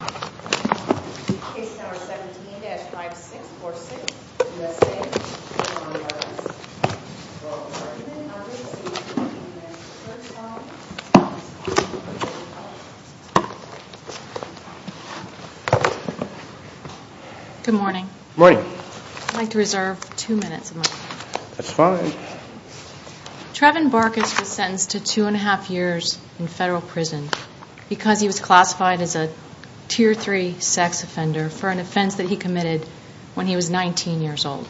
Good morning. Good morning. I'd like to reserve two minutes. That's fine. Trevon Barcus was a Tier 3 sex offender for an offense he committed when he was 19 years old.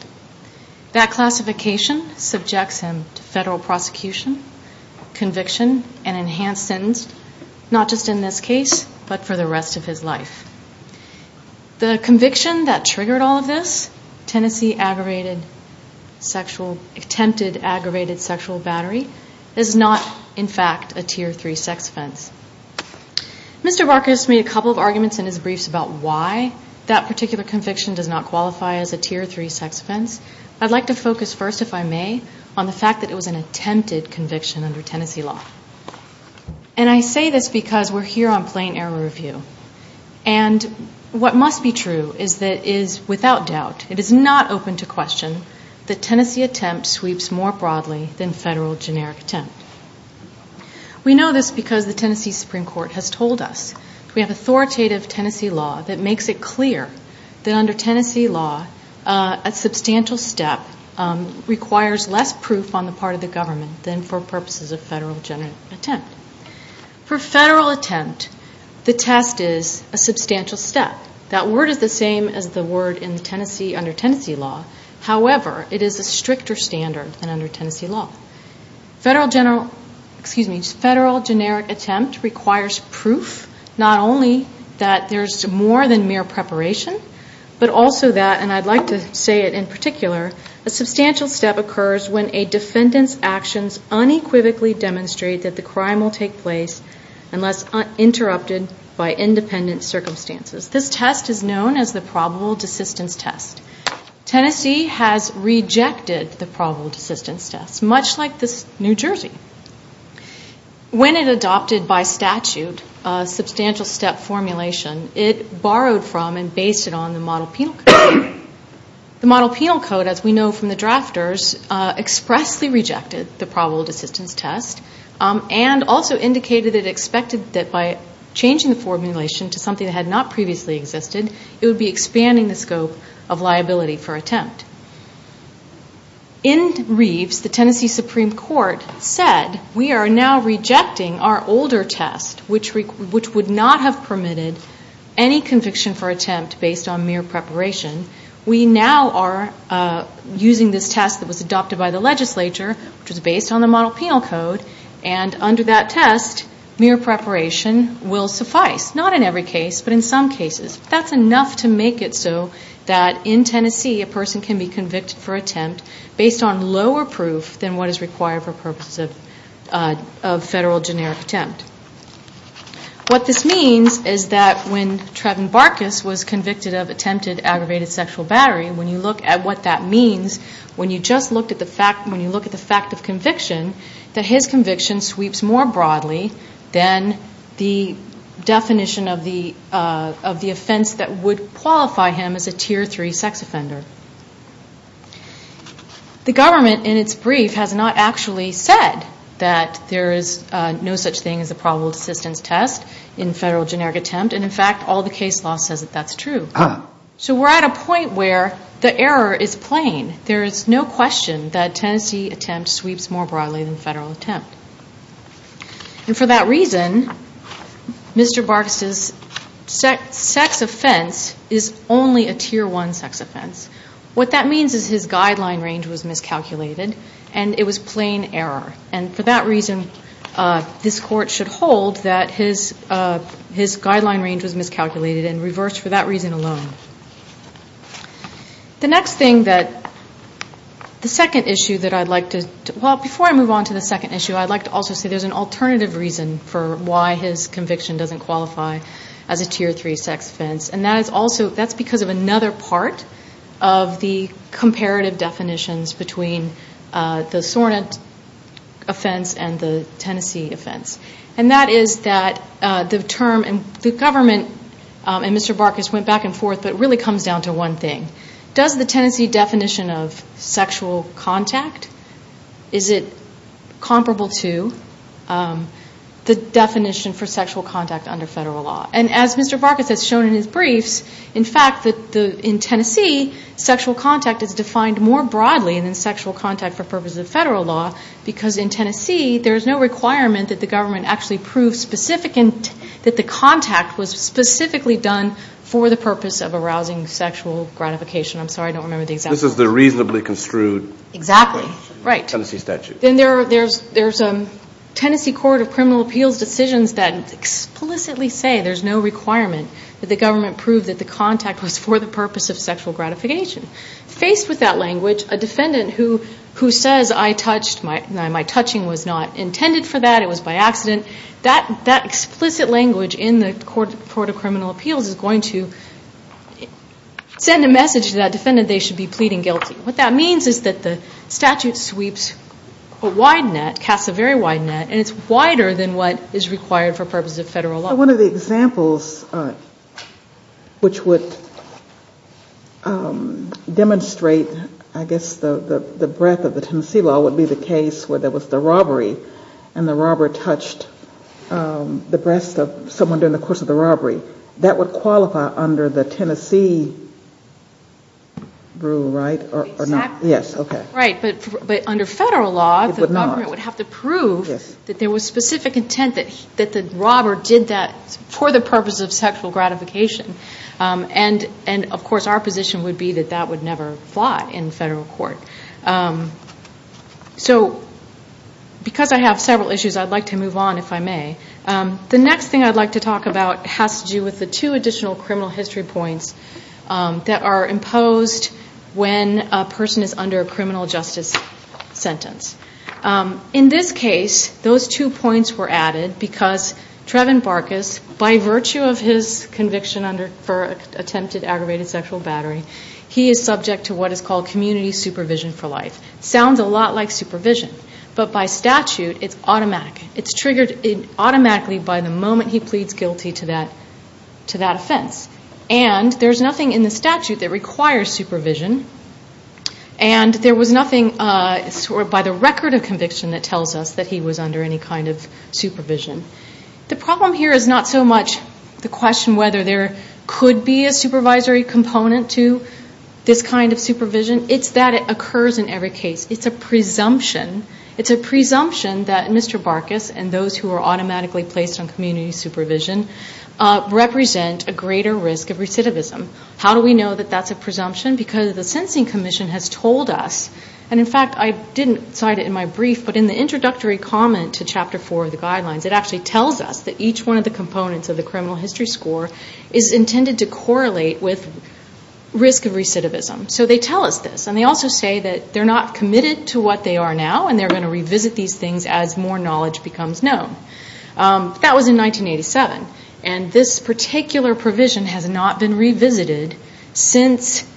That classification subjects him to federal prosecution, conviction and enhanced sentence, not just in this case but for the rest of his life. The conviction that triggered all of this, Tennessee aggravated sexual attempted aggravated sexual battery, is not in fact a Tier 3 sex offense. Mr. Barcus made a couple of arguments in his briefs about why that particular conviction does not qualify as a Tier 3 sex offense. I'd like to focus first, if I may, on the fact that it was an attempted conviction under Tennessee law. And I say this because we're here on plain error review. And what must be true is that it is without doubt, it is not open to question, that Tennessee attempt sweeps more broadly than federal generic attempt. We know this because the Tennessee Supreme Court has told us we have authoritative Tennessee law that makes it clear that under Tennessee law, a substantial step requires less proof on the part of the government than for purposes of federal generic attempt. For federal attempt, the test is a substantial step. That word is the same as the word in Tennessee under Tennessee law. Federal generic attempt requires proof not only that there's more than mere preparation, but also that, and I'd like to say it in particular, a substantial step occurs when a defendant's actions unequivocally demonstrate that the crime will take place unless interrupted by independent circumstances. This test is known as the probable desistance test. Tennessee has rejected the probable desistance test, much like New Jersey. When it adopted by statute a substantial step formulation, it borrowed from and based it on the model penal code. The model penal code, as we know from the drafters, expressly rejected the probable desistance test and also indicated it expected that by changing the formulation to something that had not previously existed, it would be expanding the scope of liability for attempt. In Reeves, the Tennessee Supreme Court said we are now rejecting our older test, which would not have permitted any conviction for attempt based on mere preparation. We now are using this test that was adopted by the legislature, which was based on the model penal code, and under that test, mere preparation will suffice, not in every case, but in some cases. That's enough to make it so that in Tennessee a person can be convicted for attempt based on lower proof than what is required for purposes of federal generic attempt. What this means is that when Treven Barkus was convicted of attempted aggravated sexual battery, when you look at what that means, when you just look at the fact, when you look at the fact that his conviction sweeps more broadly than the definition of the offense that would qualify him as a tier 3 sex offender. The government, in its brief, has not actually said that there is no such thing as a probable desistance test in federal generic attempt and, in fact, all the case law says that that's true. So we're at a point where the error is plain. There is no question that a Tennessee attempt sweeps more broadly than a federal attempt. And for that reason, Mr. Barkus' sex offense is only a tier 1 sex offense. What that means is his guideline range was miscalculated and it was plain error. And for that reason, this court should hold that his guideline range was miscalculated and it was plain error. The next thing that, the second issue that I'd like to, well before I move on to the second issue, I'd like to also say there's an alternative reason for why his conviction doesn't qualify as a tier 3 sex offense. And that is also, that's because of another part of the comparative definitions between the Sornet offense and the Tennessee offense. And that is that the term, and the government and Mr. Barkus went back and forth, but it really comes down to one thing. Does the Tennessee definition of sexual contact, is it comparable to the definition for sexual contact under federal law? And as Mr. Barkus has shown in his briefs, in fact, in Tennessee, sexual contact is defined more broadly than sexual contact for purposes of federal law because in Tennessee, there's no requirement that the government actually proves specific, that the contact was specifically done for the purpose of arousing sexual gratification. I'm sorry, I don't remember the example. This is the reasonably construed Tennessee statute. Exactly, right. Then there's Tennessee Court of Criminal Appeals decisions that explicitly say there's no requirement that the government prove that the contact was for the purpose of sexual gratification. Faced with that language, a defendant who says I touched, my touching was not intended for that, it was by accident, that explicit language in the Court of Criminal Appeals is going to send a message to that defendant they should be pleading guilty. What that means is that the statute sweeps a wide net, casts a very wide net, and it's wider than what is required for purposes of federal law. One of the examples which would demonstrate, I guess, the breadth of the Tennessee law would be the case where there was the robbery and the robber touched the breast of someone during the course of the robbery. That would qualify under the Tennessee rule, right? Under federal law, the government would have to prove that there was specific intent that the robber did that for the purpose of sexual gratification. Of course, our position would be that that would never fly in federal court. So, because I have several issues, I'd like to move on if I may. The next thing I'd like to talk about has to do with the two additional criminal history points that are imposed when a person is under a criminal justice sentence. In this case, those two points were added because Trevin Barkus, by virtue of his conviction for attempted aggravated sexual battery, he is subject to what is called community supervision for life. It sounds a lot like supervision, but by statute, it's automatic. It's triggered automatically by the moment he pleads guilty to that offense. And there's nothing in the statute that requires supervision, and there was nothing by the record of conviction that tells us that he was under any kind of supervision. The problem here is not so much the question whether there could be a supervisory component to this kind of supervision. It's that it occurs in every case. It's a presumption. It's a presumption that Mr. Barkus and those who are automatically placed on community supervision represent a greater risk of recidivism. How do we know that that's a presumption? Because the Sensing Commission has told us, and in fact, I didn't cite it in my brief, but in the introductory comment to Chapter 4 of the Guidelines, it actually tells us that each one of the components of the criminal history score is intended to correlate with risk of recidivism. So they tell us this, and they also say that they're not committed to what they are now, and they're going to revisit these things as more knowledge becomes known. That was in 1987, and this particular provision has not been revisited since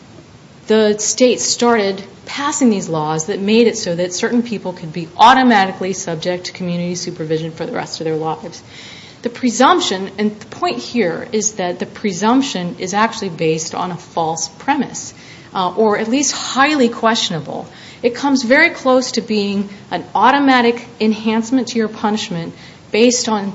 the state started passing these laws that made it so that certain people could be automatically subject to community supervision for the rest of their lives. The presumption, and the point here is that the presumption is actually based on a false premise, or at least highly questionable. It comes very close to being an automatic enhancement to your punishment based on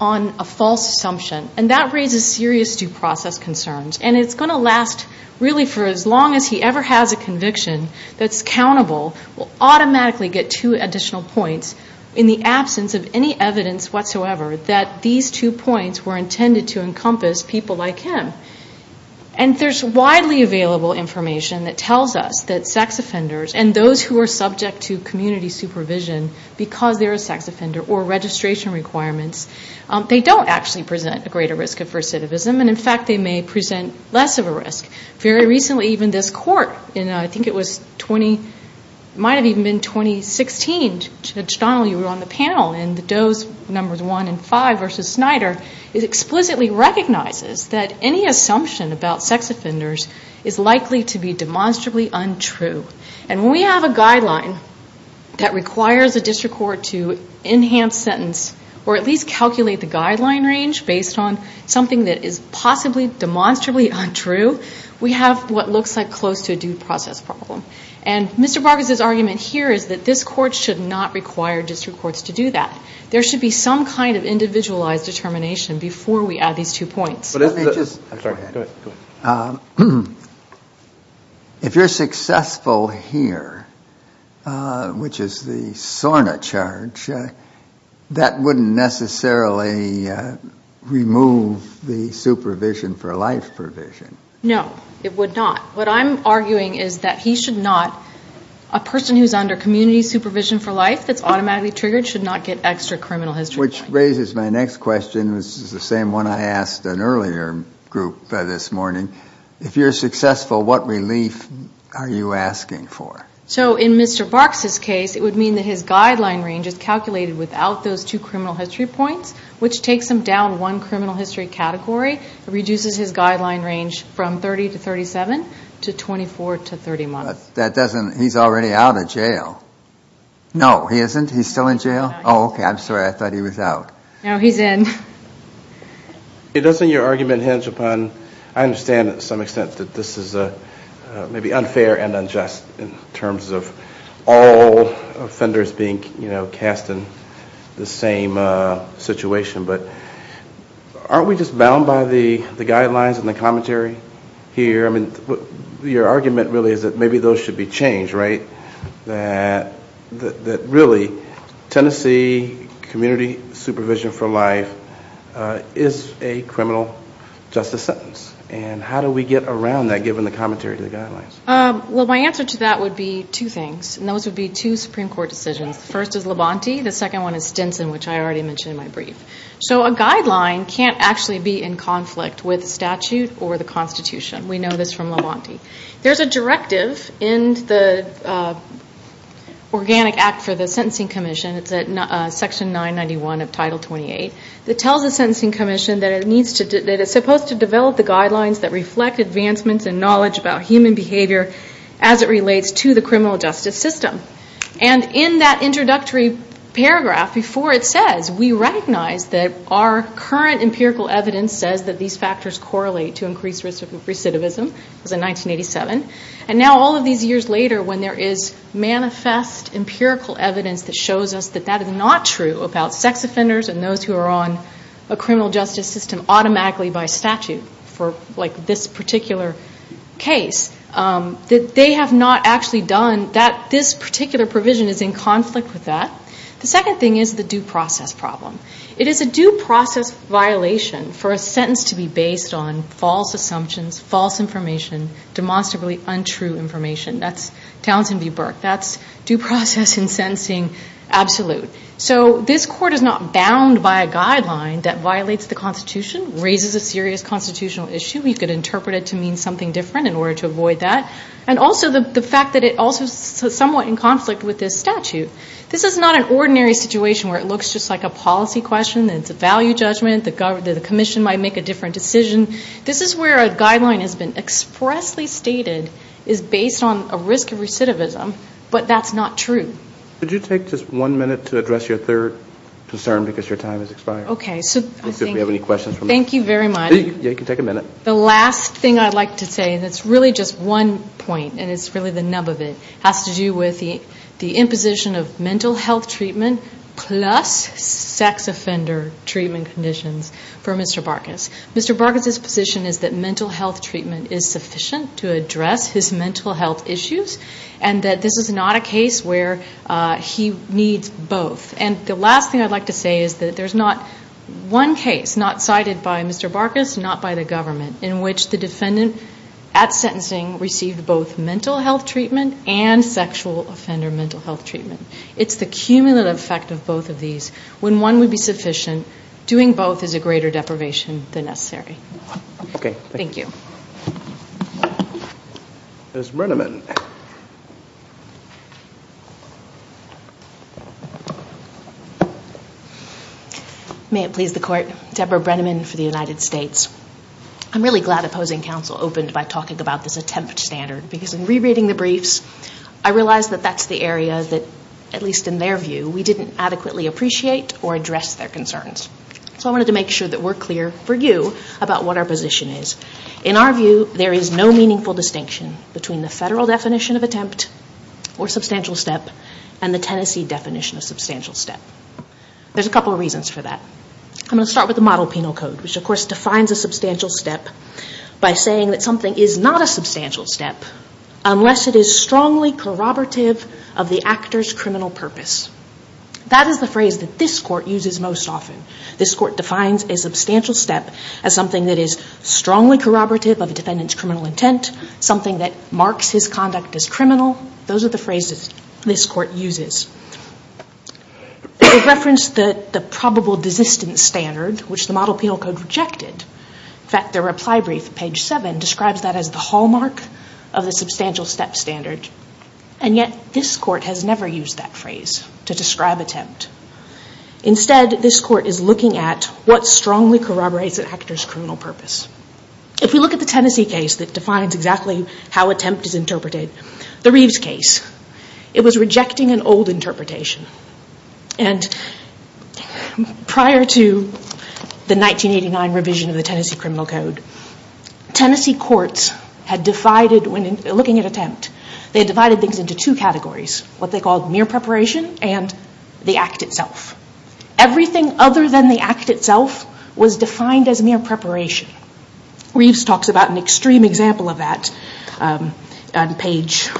a false assumption, and that raises serious due process concerns. And it's going to last really for as long as he ever has a conviction that's countable, will automatically get two additional points in the absence of any evidence whatsoever that these two points were intended to encompass people like him. And there's widely available information that tells us that sex offenders and those who are subject to community supervision because they're a sex offender or registration requirements, they don't actually present a greater risk of recidivism, and in fact, they may present less of a risk. Very recently, even this court, and I think it was 20, it might have even been 2016, Judge Donald, you were on the panel, and the Doe's numbers one and five versus Snyder, it explicitly recognizes that any assumption about sex offenders is likely to be demonstrably untrue. And when we have a guideline that requires a district court to enhance sentence or at least calculate the guideline range based on something that is possibly demonstrably untrue, we have what looks like close to a due process problem. And Mr. Bargus's argument here is that this court should not require district courts to do that. There should be some kind of individualized determination before we add these two points. If you're successful here, which is the SORNA charge, that wouldn't necessarily remove the supervision for life provision. No, it would not. What I'm arguing is that he should not, a person who's under community supervision for life that's automatically triggered should not get extra criminal history points. Which raises my next question, which is the same one I asked an earlier group this morning. If you're successful, what relief are you asking for? So in Mr. Bargus's case, it would mean that his guideline range is calculated without those two criminal history points, which takes him down one criminal history category, reduces his guideline range from 30 to 37, to 24 to 30 months. That doesn't, he's already out of jail. No, he isn't? He's still in jail? Oh, okay, I'm sorry, I thought he was out. No, he's in. Doesn't your argument hinge upon, I understand to some extent that this is maybe unfair and the same situation, but aren't we just bound by the guidelines and the commentary here? Your argument really is that maybe those should be changed, right? That really Tennessee community supervision for life is a criminal justice sentence, and how do we get around that given the commentary to the guidelines? Well, my answer to that would be two things, and those would be two Supreme Court decisions. The first is Labonte, the second one is Stinson, which I already mentioned in my brief. So a guideline can't actually be in conflict with statute or the Constitution. We know this from Labonte. There's a directive in the Organic Act for the Sentencing Commission, it's at Section 991 of Title 28, that tells the Sentencing Commission that it's supposed to develop the guidelines that reflect advancements in knowledge about human behavior as it relates to the criminal justice system. And in that introductory paragraph before it says, we recognize that our current empirical evidence says that these factors correlate to increased risk of recidivism, it was in 1987, and now all of these years later when there is manifest empirical evidence that shows us that that is not true about sex offenders and those who are on a criminal justice system automatically by statute for like this particular case, that they have not actually done, that this particular provision is in conflict with that. The second thing is the due process problem. It is a due process violation for a sentence to be based on false assumptions, false information, demonstrably untrue information. That's Townsend v. Burke. That's due process in sentencing absolute. So this Court is not bound by a guideline that violates the Constitution, raises a serious Constitutional issue. You could interpret it to mean something different in order to avoid that. And also the fact that it also is somewhat in conflict with this statute. This is not an ordinary situation where it looks just like a policy question, it's a value judgment, the Commission might make a different decision. This is where a guideline has been expressly stated is based on a risk of recidivism, but that's not true. Could you take just one minute to address your third concern because your time has expired. Okay, so I think... Let's see if we have any questions. Thank you very much. You can take a minute. The last thing I'd like to say, and it's really just one point and it's really the nub of it, has to do with the imposition of mental health treatment plus sex offender treatment conditions for Mr. Barkas. Mr. Barkas's position is that mental health treatment is sufficient to address his mental health issues and that this is not a case where he needs both. And the last thing I'd like to say is that there's not one case, not cited by Mr. Barkas, not by the government, in which the defendant at sentencing received both mental health treatment and sexual offender mental health treatment. It's the cumulative effect of both of these. When one would be sufficient, doing both is a greater deprivation than necessary. Okay. Thank you. Ms. Brenneman. May it please the court. Deborah Brenneman for the United States. I'm really glad Opposing Counsel opened by talking about this attempt standard because in rereading the briefs, I realized that that's the area that, at least in their view, we didn't adequately appreciate or address their concerns. So I wanted to make sure that we're clear for you about what their position is. In our view, there is no meaningful distinction between the federal definition of attempt or substantial step and the Tennessee definition of substantial step. There's a couple of reasons for that. I'm going to start with the model penal code, which of course defines a substantial step by saying that something is not a substantial step unless it is strongly corroborative of the actor's criminal purpose. That is the phrase that this court uses most often. This court defines a substantial step as something that is strongly corroborative of a defendant's criminal intent, something that marks his conduct as criminal. Those are the phrases this court uses. It referenced the probable desistance standard, which the model penal code rejected. In fact, their reply brief, page seven, describes that as the hallmark of the substantial step standard. And yet this court has never used that phrase to describe attempt. Instead, this court is looking at what strongly corroborates an actor's criminal purpose. If we look at the Tennessee case that defines exactly how attempt is interpreted, the Reeves case, it was rejecting an old interpretation. And prior to the 1989 revision of the Tennessee criminal code, Tennessee courts had divided, looking at attempt, they divided things into two categories, what they called mere preparation and the act itself. Everything other than the act itself was defined as mere preparation. Reeves talks about an extreme example of that on page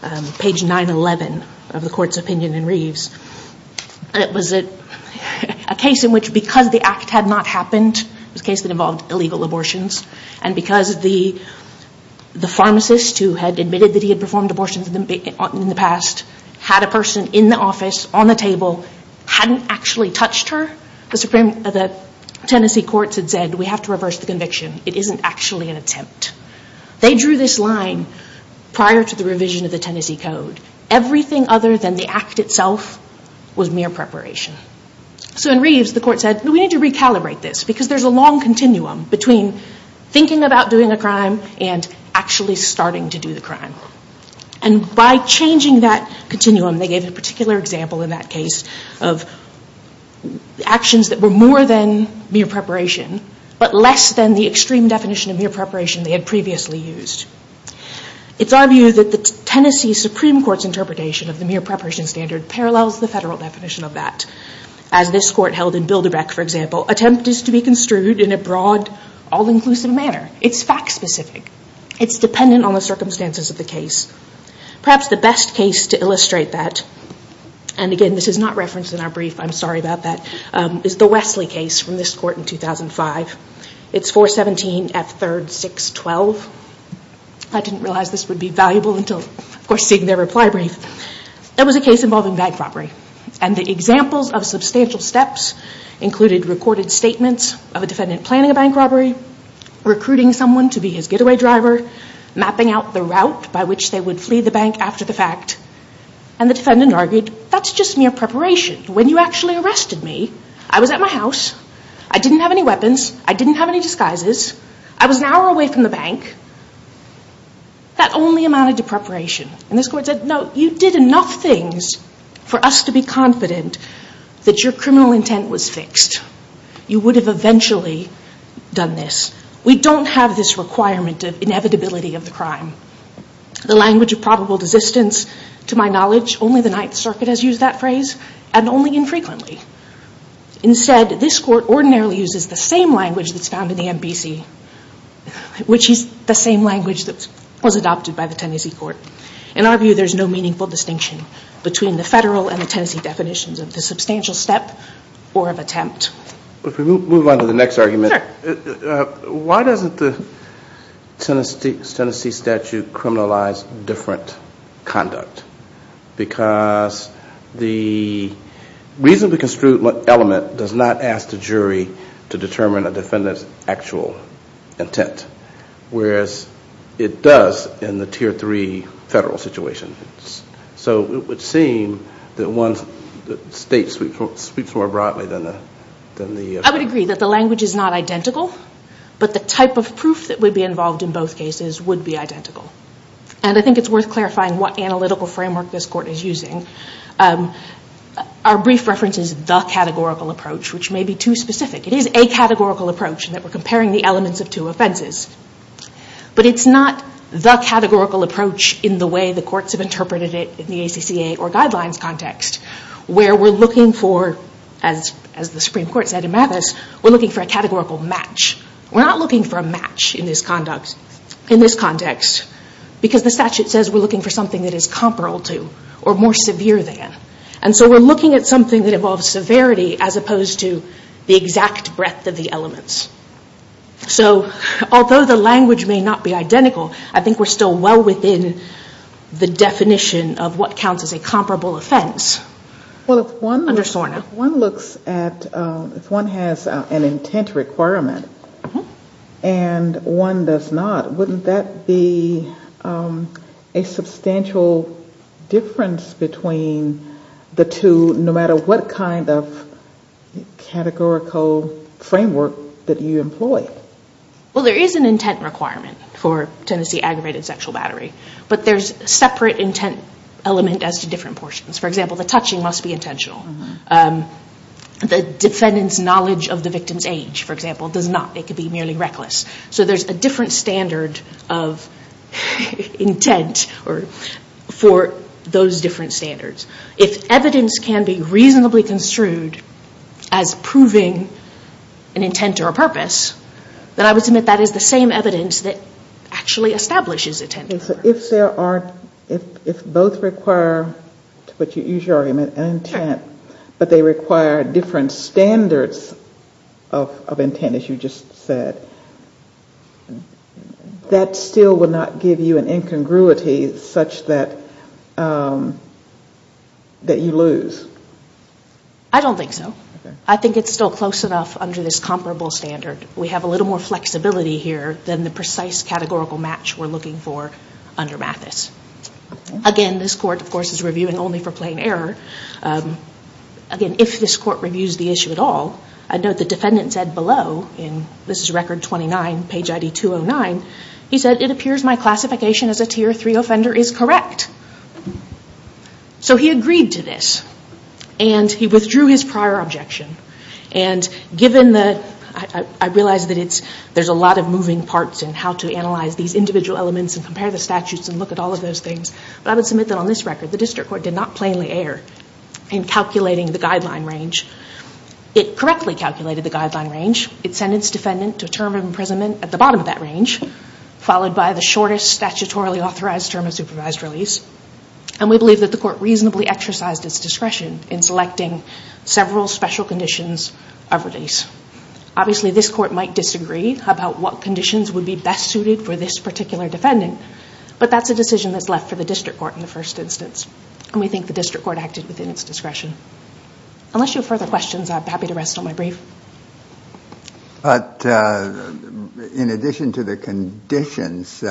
911 of the court's opinion in Reeves. It was a case in which because the act had not happened, it was a case that involved illegal abortions, and because the pharmacist who had admitted that he had performed abortions in the past had a person in the office, on the court, the Tennessee courts had said, we have to reverse the conviction. It isn't actually an attempt. They drew this line prior to the revision of the Tennessee code. Everything other than the act itself was mere preparation. So in Reeves, the court said, we need to recalibrate this, because there's a long continuum between thinking about doing a crime and actually starting to do the crime. And by changing that continuum, they gave a particular example in that case of actions that were more than mere preparation, but less than the extreme definition of mere preparation they had previously used. It's our view that the Tennessee Supreme Court's interpretation of the mere preparation standard parallels the federal definition of that. As this court held in Bilderbeck, for example, attempt is to be construed in a broad, all-inclusive manner. It's fact-specific. It's dependent on the circumstances of the case. And again, this is not referenced in our brief. I'm sorry about that. It's the Wesley case from this court in 2005. It's 417F3-612. I didn't realize this would be valuable until, of course, seeing their reply brief. That was a case involving bank robbery. And the examples of substantial steps included recorded statements of a defendant planning a bank robbery, recruiting someone to be his getaway driver, mapping out the route by which they would flee the bank after the fact. And the defendant argued, that's just mere preparation. When you actually arrested me, I was at my house. I didn't have any weapons. I didn't have any disguises. I was an hour away from the bank. That only amounted to preparation. And this court said, no, you did enough things for us to be confident that your criminal intent was fixed. You would have eventually done this. We don't have this requirement of inevitability of the crime. The language of probable desistance, to my knowledge, only the Ninth Circuit has used that phrase, and only infrequently. Instead, this court ordinarily uses the same language that's found in the MBC, which is the same language that was adopted by the Tennessee court. In our view, there's no meaningful distinction between the federal and the Tennessee definitions of the substantial step or of attempt. If we move on to the next argument, why doesn't the Tennessee statute criminalize different conduct? Because the reasonably construed element does not ask the jury to determine a defendant's actual intent, whereas it does in the Tier 3 federal situation. So it would agree that the language is not identical, but the type of proof that would be involved in both cases would be identical. And I think it's worth clarifying what analytical framework this court is using. Our brief reference is the categorical approach, which may be too specific. It is a categorical approach in that we're comparing the elements of two offenses. But it's not the categorical approach in the way the courts have interpreted it in the courts at Imathas. We're looking for a categorical match. We're not looking for a match in this context because the statute says we're looking for something that is comparable to or more severe than. And so we're looking at something that involves severity as opposed to the exact breadth of the elements. So although the language may not be identical, I think we're still well within the definition of what counts as a comparable offense under SORNA. If one has an intent requirement and one does not, wouldn't that be a substantial difference between the two, no matter what kind of categorical framework that you employ? Well there is an intent requirement for Tennessee aggravated sexual battery. But there's a separate intent element as to different portions. For example, the touching must be intentional. The defendant's knowledge of the victim's age, for example, does not. It could be merely reckless. So there's a different standard of intent for those different standards. If evidence can be reasonably construed as proving an intent or a purpose, then I would submit that is the same evidence that actually establishes intent. If both require, to use your argument, an intent, but they require different standards of intent, as you just said, that still would not give you an incongruity such that you lose? I don't think so. I think it's still close enough under this comparable standard. We have a little more flexibility here than the precise categorical match we're looking for under Mathis. Again, this Court, of course, is reviewing only for plain error. Again, if this Court reviews the issue at all, I note the defendant said below, and this is record 29, page ID 209, he said, it appears my classification as a tier 3 offender is correct. So he agreed to this. And he withdrew his prior objection. And given the, I realize that there's a lot of moving parts in how to analyze these individual elements and compare the statutes and look at all of those things, but I would submit that on this record, the District Court did not plainly err in calculating the guideline range. It correctly calculated the guideline range. It sentenced the defendant to a term of imprisonment at the bottom of that range, followed by the shortest statutorily authorized term of supervised release. And we believe that the Court reasonably exercised its discretion in selecting several special conditions of release. Obviously, this Court might disagree about what conditions would be best suited for this particular defendant, but that's a decision that's left for the District Court in the first instance. And we think the District Court acted within its discretion. Unless you have further questions, I'm happy to rest on my brief. But in addition to the conditions,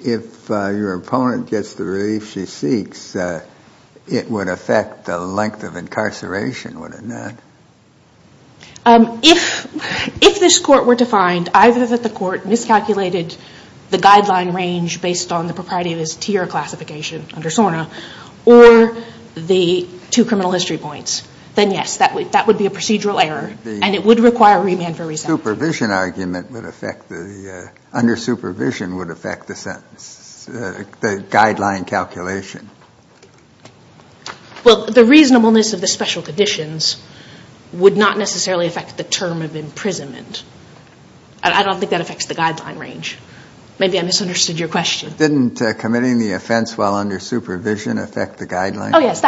if your opponent gets the relief she seeks, it would affect the length of incarceration, wouldn't it? If this Court were to find either that the Court miscalculated the guideline range based on the propriety of his tier classification under SORNA or the two criminal history points, then yes, that would be a procedural error, and it would require remand for resentment. The supervision argument would affect the under supervision would affect the sentence, the guideline calculation. Well, the reasonableness of the special conditions would not necessarily affect the term of imprisonment. I don't think that affects the guideline range. Maybe I misunderstood your question. Oh, yes,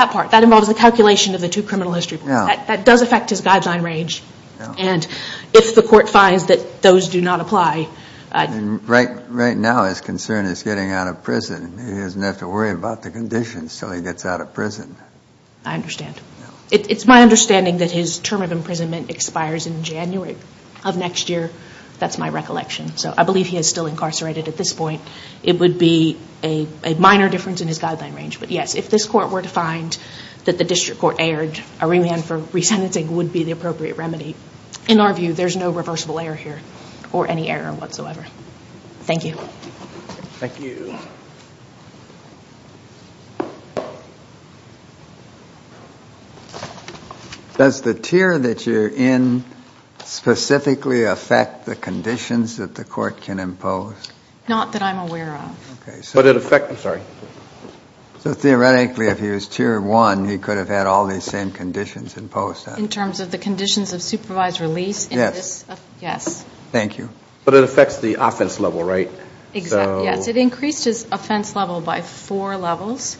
that part. That involves the calculation of the two criminal history points. That does affect his guideline range. And if the Court finds that those do not apply... Right now his concern is getting out of prison. He doesn't have to worry about the conditions until he gets out of prison. I understand. It's my understanding that his term of imprisonment expires in January of next year. That's my recollection. So I believe he is still incarcerated at this point. It would be a minor difference in his guideline range. But yes, if this Court were to find that the District Court erred, a remand for resentencing would be the appropriate remedy. In our view, there's no reversible error here or any error whatsoever. Thank you. Thank you. Does the tier that you're in specifically affect the conditions that the Court can impose? Not that I'm aware of. Theoretically, if he was Tier 1, he could have had all these same conditions imposed. In terms of the conditions of supervised release? Yes. But it affects the offense level, right? Yes. It increased his offense level by four levels.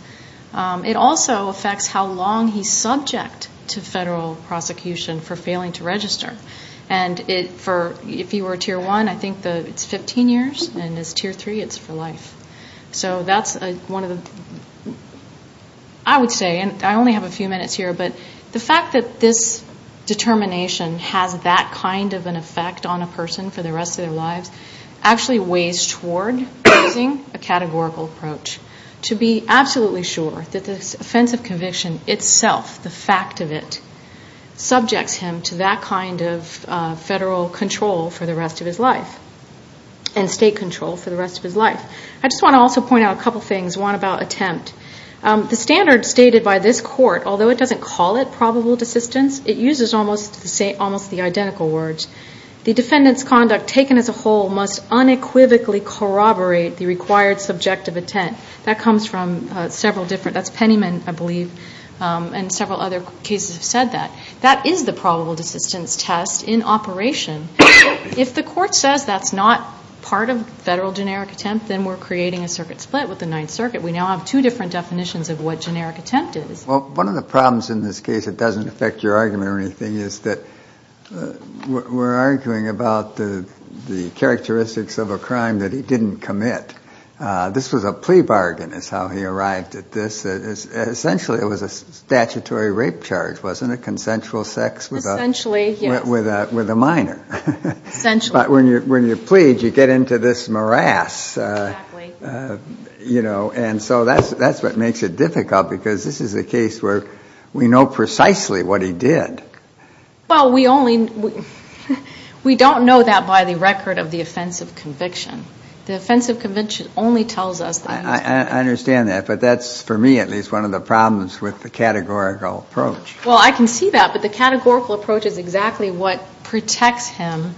It also affects how long he's subject to federal prosecution for failing to register. And if he were Tier 1, I think it's 15 years. And if he's Tier 3, it's for life. I would say, and I only have a few minutes here, but the fact that this determination has that kind of an effect on a person for the rest of their lives actually weighs toward using a categorical approach to be absolutely sure that the offense of conviction itself, the fact of it, subjects him to that kind of federal control for the rest of his life and state control for the rest of his life. I just want to also point out a couple things, one about attempt. The standard stated by this Court, although it doesn't call it probable desistance, it uses almost the identical words. The defendant's conduct taken as a whole must unequivocally corroborate the required subjective intent. That comes from several different, that's Pennyman, I believe, and several other cases have said that. That is the probable desistance test in operation. If the Court says that's not part of federal generic attempt, then we're creating a circuit split with the Ninth Circuit. We now have two different definitions of what generic attempt is. Well, one of the problems in this case that doesn't affect your argument or anything is that we're arguing about the characteristics of a crime that he didn't commit. This was a plea bargain is how he arrived at this. Essentially, it was a statutory rape charge, wasn't it? Consensual sex with a minor. But when you plead, you get into this morass. And so that's what makes it difficult, because this is a case where we know precisely what he did. Well, we only, we don't know that by the record of the offense of conviction. The offense of conviction only tells us that. I understand that, but that's, for me at least, one of the problems with the categorical approach. Well, I can see that, but the categorical approach is exactly what protects him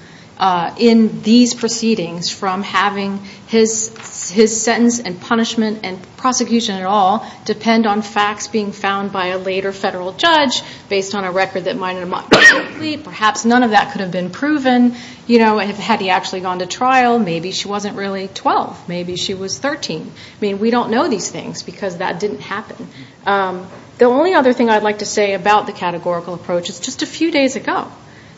in these proceedings from having his sentence and punishment and prosecution at all depend on facts being found by a later federal judge based on a record that might or might not be complete. Perhaps none of that could have been proven. Had he actually gone to trial, maybe she wasn't really 12. Maybe she was 13. I mean, we don't know these things because that didn't happen. The only other thing I'd like to say about the categorical approach is just a few days ago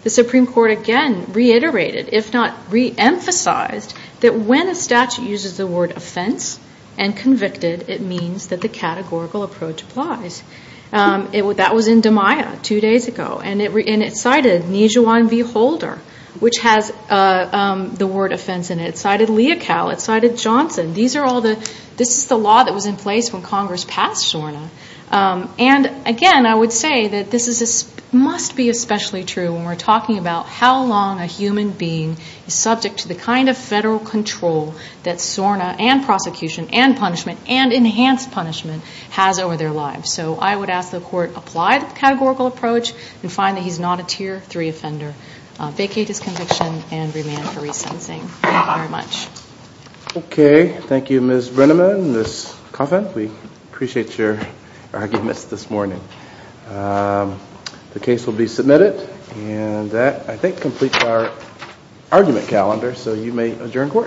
the Supreme Court again reiterated, if not reemphasized, that when a statute uses the word offense and convicted, it means that the categorical approach applies. That was in DiMaia two days ago, and it cited Nijuan V. Holder, which has the word offense in it. It cited Leocal. It cited Johnson. This is the law that was in place when Congress passed SORNA. And again, I would say that this must be especially true when we're talking about how long a human being is subject to the kind of federal control that SORNA and prosecution and punishment and enhanced punishment has over their lives. So I would ask the Court apply the categorical approach and find that he's not a tier three offender. Vacate his conviction and remand for re-sensing. Thank you very much. Okay. Thank you, Ms. Brenneman, Ms. Coffin. We appreciate your arguments this morning. The case will be submitted, and that, I think, completes our argument calendar, so you may adjourn court.